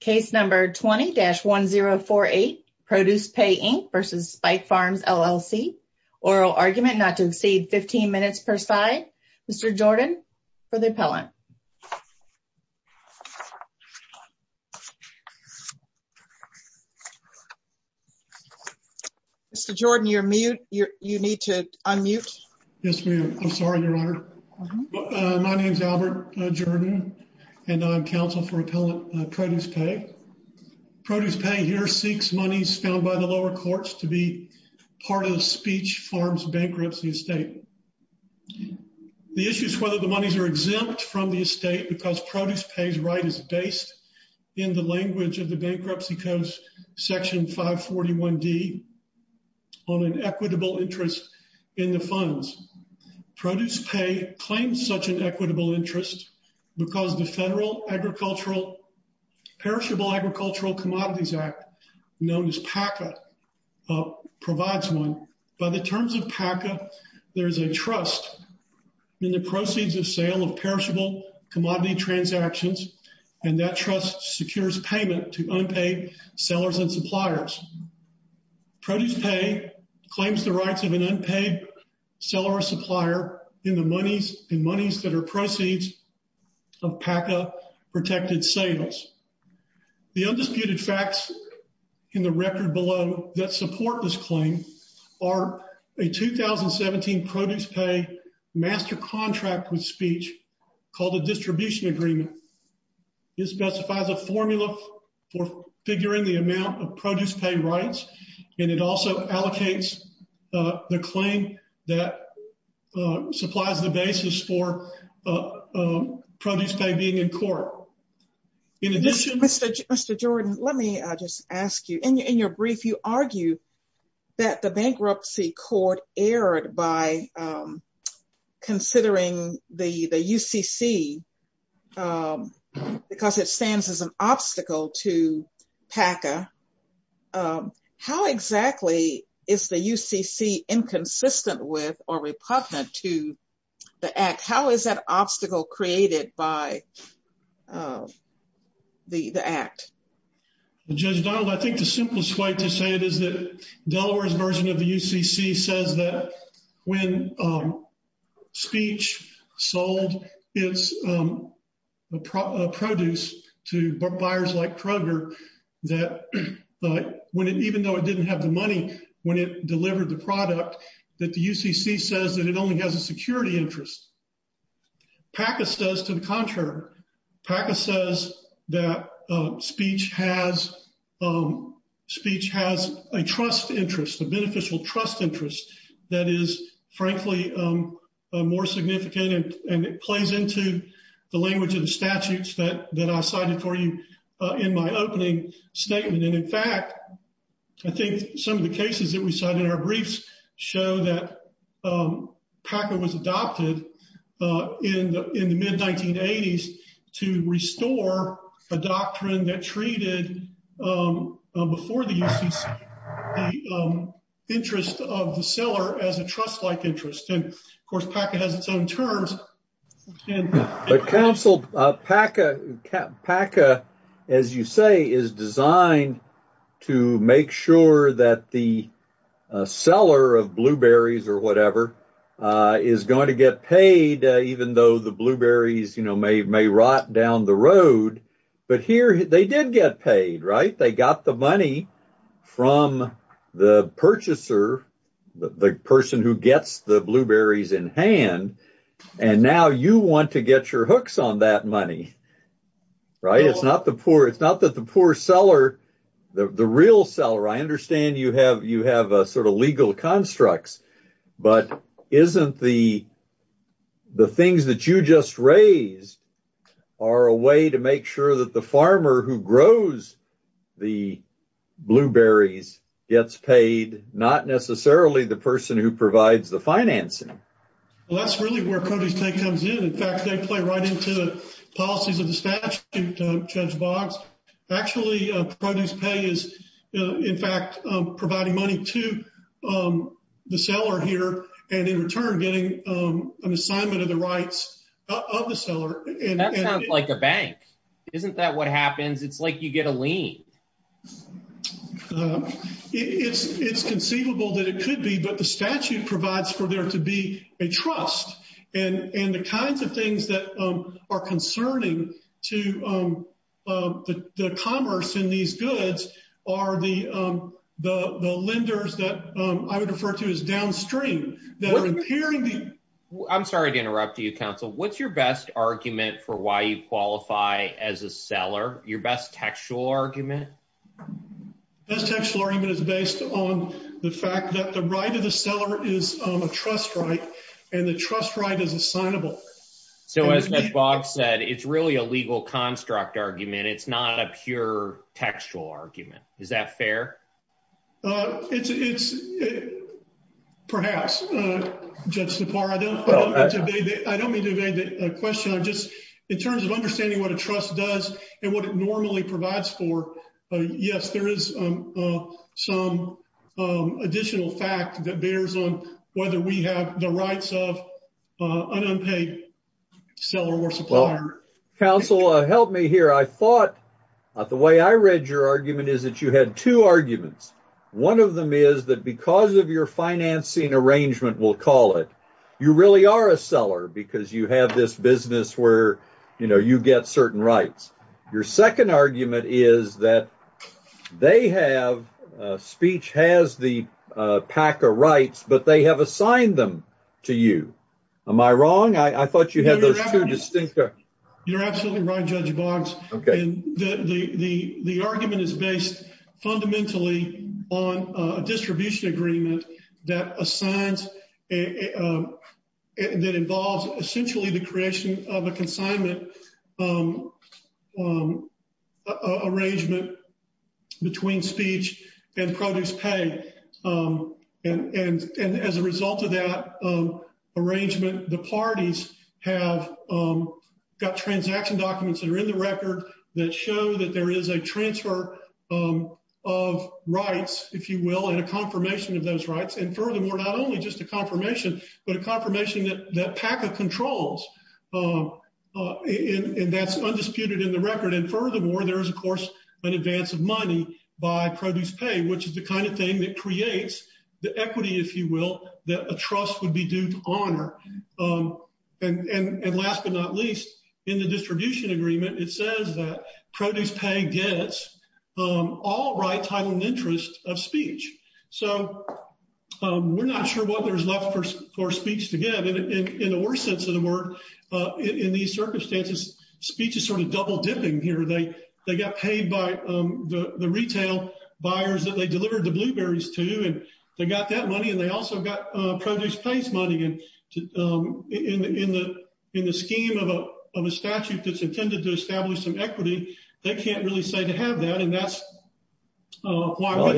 Case number 20-1048, Produce Pay Inc v. Spiech Farms LLC. Oral argument not to exceed 15 minutes per side. Mr. Jordan for the appellant. Mr. Jordan, you're mute. You need to unmute. Yes, ma'am. I'm sorry, Your Honor. My name is Albert Jordan and I'm counsel for Appellant Produce Pay. Produce Pay here seeks monies found by the lower courts to be part of Spiech Farms bankruptcy estate. The issue is whether the monies are exempt from the estate because Produce Pay's right is based in the language of the Bankruptcy Codes Section 541D on an equitable interest in the funds. Produce Pay claims such an equitable interest because the federal agricultural Perishable Agricultural Commodities Act, known as PACA, provides one. By the terms of PACA, there is a trust in the proceeds of sale of perishable commodity transactions and that trust secures payment to unpaid sellers and suppliers. Produce Pay claims the rights of an unpaid seller or supplier in the monies that are proceeds of PACA protected sales. The undisputed facts in the record below that support this claim are a 2017 Produce Pay master contract with Spiech called a distribution agreement. This specifies a formula for figuring the amount of Produce Pay rights and it also allocates the claim that supplies the basis for Produce Pay being in court. In addition, Mr. Jordan, let me just ask you in your brief you argue that the bankruptcy court erred by considering the UCC because it stands as an obstacle created by the act. Judge Donald, I think the simplest way to say it is that Delaware's version of the UCC says that when Spiech sold its produce to buyers like Kroger that when it even though it didn't have the money when it delivered the product that the UCC says that it only has a security interest. PACA says to the contrary, PACA says that Spiech has a trust interest, a beneficial trust interest that is frankly more significant and it plays into the language of the statutes that I cited for you in my opening statement and in fact I think some of the cases that we cited in our briefs show that PACA was adopted in the in the mid-1980s to restore a doctrine that treated before the UCC the interest of the seller as a trust-like interest and of course PACA has its own terms. But counsel, PACA as you say is designed to make sure that the seller of blueberries or whatever is going to get paid even though the blueberries you know may may rot down the road but here they did get paid right they got the money from the purchaser the person who gets the blueberries in hand and now you want to get your hooks on that money right it's not the poor it's not that the poor seller the the real seller I understand you have you have a sort of legal constructs but isn't the the things that you just raised are a way to make sure that the farmer who grows the blueberries gets paid not necessarily the person who provides the financing. Well that's really where produce pay comes in in fact they play right into the policies of the statute Judge Boggs actually produce pay is in fact providing money to the seller here and in return getting an assignment of the rights of the seller. That sounds like a bank isn't that what happens it's like you get a lien. It's it's conceivable that it could be but the statute provides for there to be a trust and and the kinds of things that are concerning to the commerce in these goods are the the the lenders that I would refer to as downstream. They're impairing the I'm sorry to interrupt you counsel what's your best argument for why you qualify as a seller your best textual argument? Best textual argument is based on the fact that the right of the seller is a trust right and the trust right is assignable. So as Judge Boggs said it's really a legal construct argument it's not a pure textual argument is that fair? It's it's perhaps Judge Sipar I don't I don't mean to evade the question I'm just in terms of understanding what a trust does and what it normally provides for yes there is some additional fact that bears on whether we have the rights of an unpaid seller or supplier. Counsel help me here I thought the way I read your argument is that you had two arguments one of them is that because of your financing arrangement we'll call it you really are a seller because you have this business where you know you get certain rights your second argument is that they have speech has the PACA rights but they have assigned them to you am I wrong? I thought you had those two distinct you're absolutely right Judge Boggs okay the the the argument is based fundamentally on a distribution agreement that assigns that involves essentially the creation of a consignment arrangement between speech and produce pay and and and as a result of that arrangement the parties have got transaction documents that are in the record that show that there is a transfer of rights if you will and a confirmation of those rights and furthermore not only just a confirmation but a confirmation that that PACA controls and that's undisputed in the record and furthermore there is of course an advance of money by produce pay which is the kind thing that creates the equity if you will that a trust would be due to honor and and and last but not least in the distribution agreement it says that produce pay gets all right title and interest of speech so we're not sure what there's left for for speech to get in in the worst sense of the word in these circumstances speech is sort of double dipping here they they got paid by the retail buyers that they delivered the blueberries to and they got that money and they also got produce place money and in the in the scheme of a of a statute that's intended to establish some equity they can't really say to have that and that's why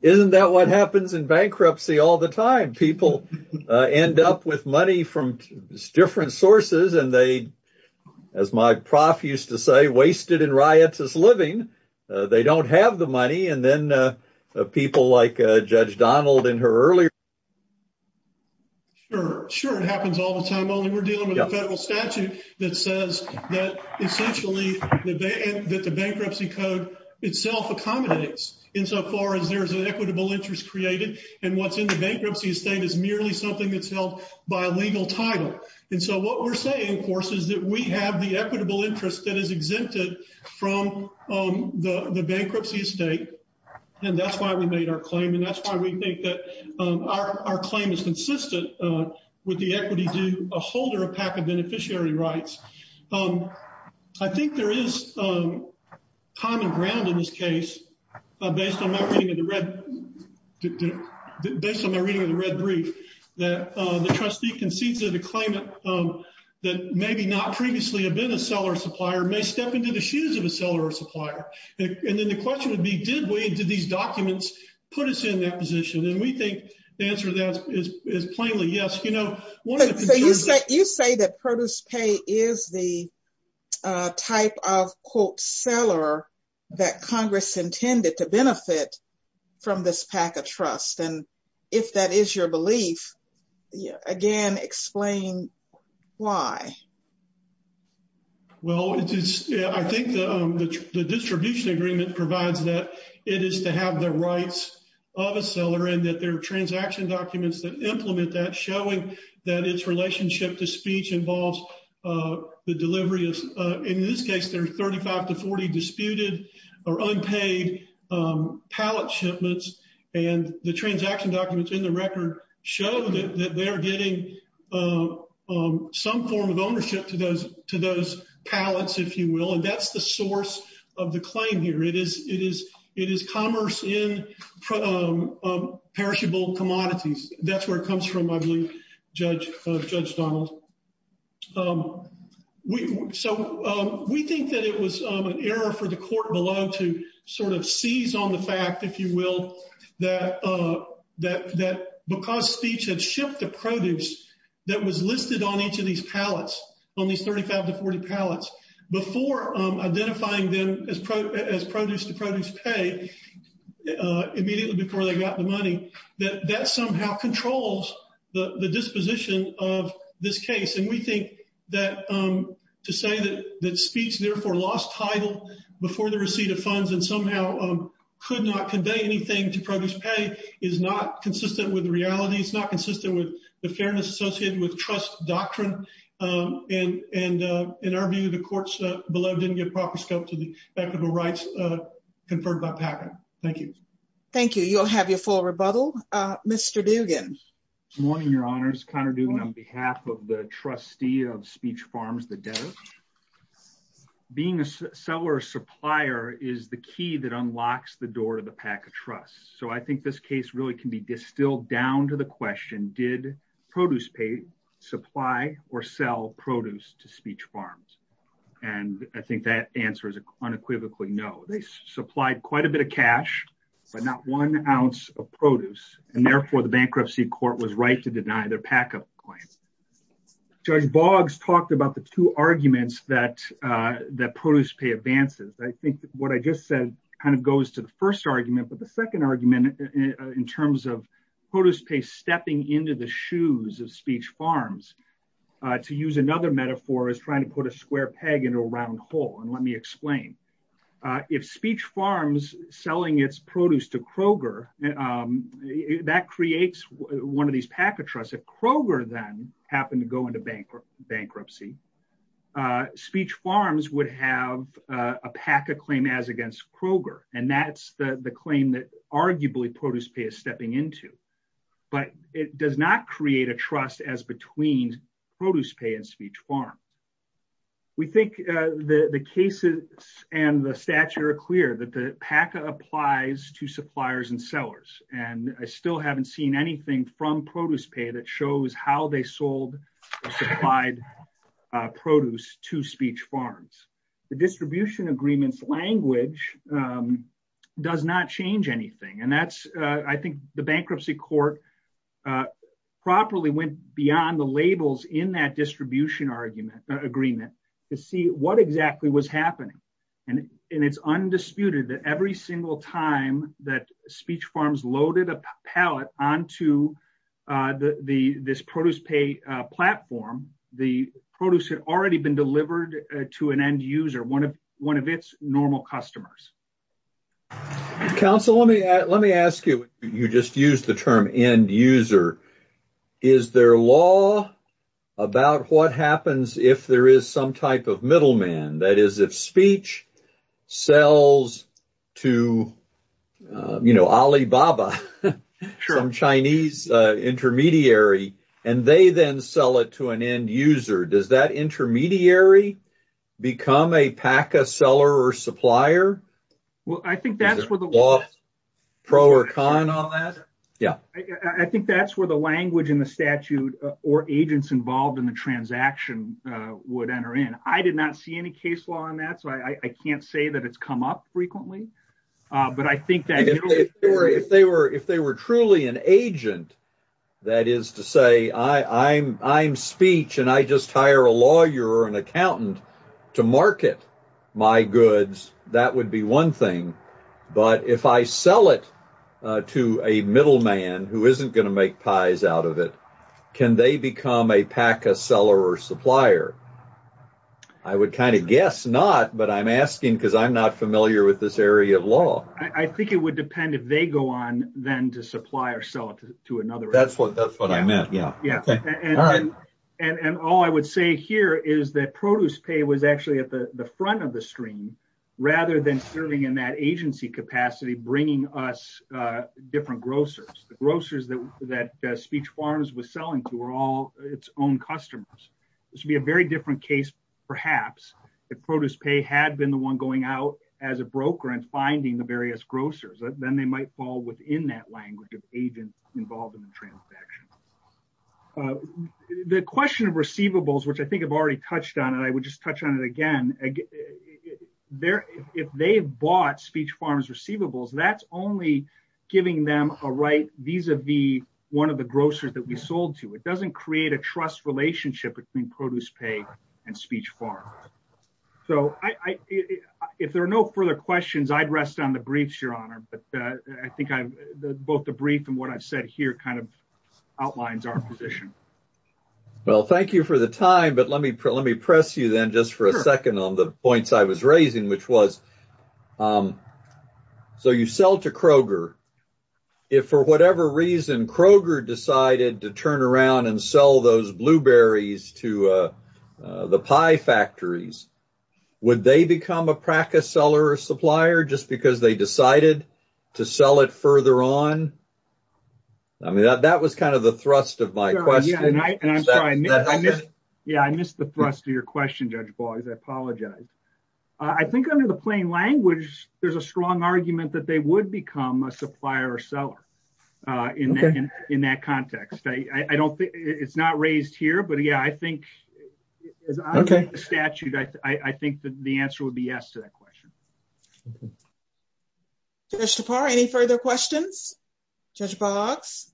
isn't that what happens in bankruptcy all the time people end up with money from different sources and they as my prof used to say wasted in riots is living they don't have the money and then people like judge donald in her earlier sure sure it happens all the time only we're dealing with a federal statute that says that essentially that the bankruptcy code itself accommodates insofar as there's an equitable interest created and what's in the bankruptcy estate is merely something that's held by a legal title and so what we're saying of course is that we have the equitable interest that is exempted from the the bankruptcy estate and that's why we made our claim and that's why we think that our our claim is consistent with the equity due a holder of PACA beneficiary rights I think there is common ground in this case based on my reading of the red based on my reading of the red brief that the trustee concedes that the claimant that maybe not previously have been a seller supplier may step into the shoes of a seller or supplier and then the question would be did we did these documents put us in that position and we think the answer to that is is plainly yes you know what so you say you say that produce pay is the type of quote seller that congress intended to benefit from this pack of trust and if that is your belief again explain why well it is I think the distribution agreement provides that it is to have the rights of a seller and that their transaction documents that implement that showing that its relationship to speech involves the delivery of in this case there are 35 to 40 disputed or unpaid pallet shipments and the transaction documents in the record show that they are getting some form of ownership to those to those pallets if you will and that's the source of the claim here it is it is it is commerce in perishable commodities that's where it comes from judge judge donald um we so um we think that it was um an error for the court below to sort of seize on the fact if you will that uh that that because speech had shipped the produce that was listed on each of these pallets on these 35 to 40 pallets before um identifying them as pro as produce to produce pay uh immediately before they got the money that that somehow controls the the disposition of this case and we think that um to say that that speech therefore lost title before the receipt of funds and somehow um could not convey anything to produce pay is not consistent with reality it's not consistent with the fairness associated with trust doctrine um and and uh in our view the courts below didn't get proper scope to the fact of the rights uh thank you thank you you'll have your full rebuttal uh mr dugan morning your honors connor doing on behalf of the trustee of speech farms the debtor being a seller supplier is the key that unlocks the door to the pack of trust so i think this case really can be distilled down to the question did produce pay supply or sell produce to speech farms and i think that answer unequivocally no they supplied quite a bit of cash but not one ounce of produce and therefore the bankruptcy court was right to deny their pack-up claim judge boggs talked about the two arguments that uh that produce pay advances i think what i just said kind of goes to the first argument but the second argument in terms of produce pay stepping into the shoes of speech farms uh to use another metaphor is trying to put a square peg into a round hole and let me explain uh if speech farms selling its produce to kroger um that creates one of these packet trusts if kroger then happened to go into bankrupt bankruptcy uh speech farms would have a pack of claim as against kroger and that's the the claim that arguably produce pay is stepping into but it does not create a trust as between produce pay and speech farm we think uh the the cases and the stature are clear that the pack applies to suppliers and sellers and i still haven't seen anything from produce pay that shows how they sold or supplied produce to speech farms the distribution agreements language um does not change anything and that's uh i think the bankruptcy court uh properly went beyond the labels in that distribution argument agreement to see what exactly was happening and and it's undisputed that every single time that speech farms loaded a palette onto uh the the this produce pay uh platform the produce had already been delivered to an end user one of one of its normal customers council let me let me ask you you just used the term end user is there law about what happens if there is some type of middleman that is if speech sells to you know alibaba from chinese uh intermediary and they then sell it to an end user does that intermediary become a pack a seller or supplier well i think that's where the pro or con on that yeah i think that's where the language in the statute or agents involved in the transaction uh would enter in i did not see any case law on that so i i can't say that it's come up frequently uh but i think that if they were if they were truly an agent that is to say i i'm i'm speech and i just hire a lawyer or an accountant to market my goods that would be one thing but if i sell it to a middleman who isn't going to make pies out of it can they become a pack a seller or supplier i would kind of guess not but i'm asking because i'm not familiar with this area of law i think it would depend if they go on then to supply or sell it to another that's what that's what i meant yeah yeah and and all i would say here is that produce pay was actually at the the front of the stream rather than serving in that agency capacity bringing us uh different grocers the grocers that that speech farms was selling to were all its own customers it should be a very different case perhaps if produce pay had been the one going out as a broker and finding the various grocers then they might fall within that language of agents involved in the transaction the question of receivables which i think i've already touched on and i would just touch on it again there if they've bought speech farms receivables that's only giving them a right vis-a-vis one of the grocers that we sold to it doesn't create a trust relationship between produce pay and speech farm so i i if there are no further questions i'd rest on the briefs your honor but uh i think i've both the brief and what i've said here kind of outlines our position well thank you for the time but let me let me press you then just for a second on the points i was raising which was um so you sell to kroger if for whatever reason kroger decided to turn around and sell those blueberries to uh the pie factories would they become a practice seller or supplier just because they decided to sell it further on i mean that that was kind of thrust of my question yeah i missed the thrust of your question judge boggs i apologize i think under the plain language there's a strong argument that they would become a supplier or seller uh in that in that context i i don't think it's not raised here but yeah i think okay statute i i think that the answer would be yes to that question judge tapar any further questions judge boggs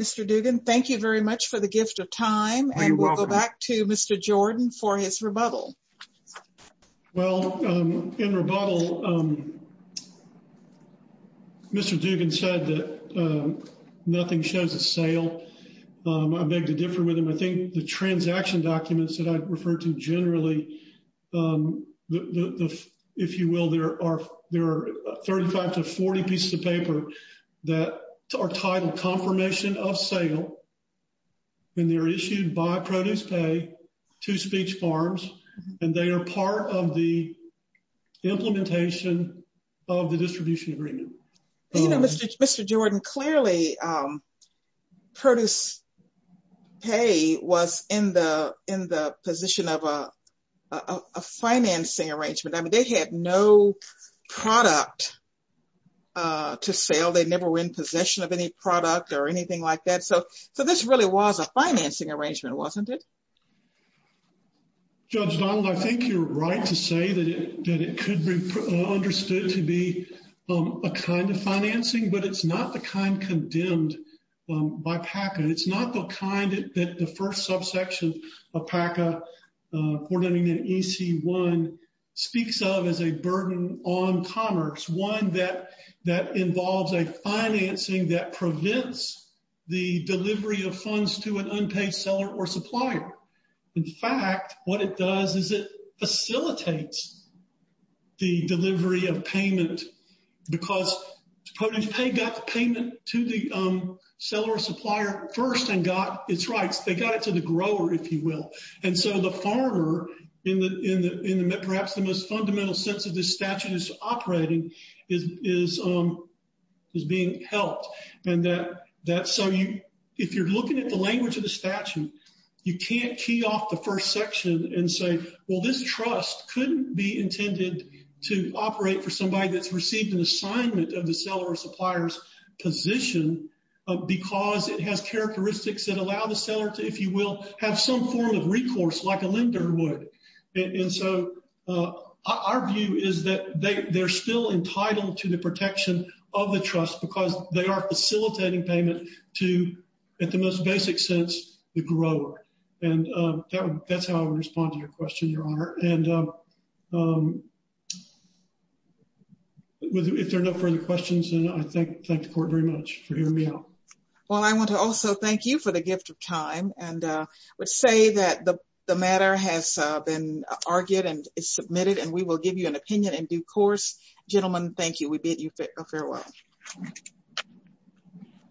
mr dugan thank you very much for the gift of time and we'll go back to mr jordan for his rebuttal well um in rebuttal um mr dugan said that um nothing shows a sale um i beg to differ with him i think the transaction documents that i refer to generally um the the if you will there are there are 35 to 40 pieces of paper that are titled confirmation of sale and they're issued by produce pay to speech farms and they are part of the implementation of the distribution agreement you know mr jordan clearly um produce pay was in the in the position of a a financing arrangement i mean they had no product uh to sell they never were in possession of any product or anything like that so so this really was a financing arrangement wasn't it judge donald i think you're right to say that that it could be understood to be um a kind of financing but it's not the kind condemned by paca it's not the kind that the first subsection of paca uh coordinating an ec1 speaks of as a burden on commerce one that that involves a financing that prevents the delivery of funds to an unpaid seller or supplier in fact what it does is it facilitates the delivery of payment because produce pay got the payment to the um seller supplier first and got its rights they got it to the grower if you will and so the farmer in the in the in the perhaps the most fundamental sense of this statute is operating is is um is being helped and that that so you if you're looking at the language of the you can't key off the first section and say well this trust couldn't be intended to operate for somebody that's received an assignment of the seller or supplier's position because it has characteristics that allow the seller to if you will have some form of recourse like a lender would and so uh our view is that they they're still entitled to the protection of the trust because they are facilitating payment to at the most basic sense the grower and uh that's how I would respond to your question your honor and um if there are no further questions and I think thank the court very much for hearing me out well I want to also thank you for the gift of time and uh would say that the the matter has uh been argued and is submitted and we will give you an um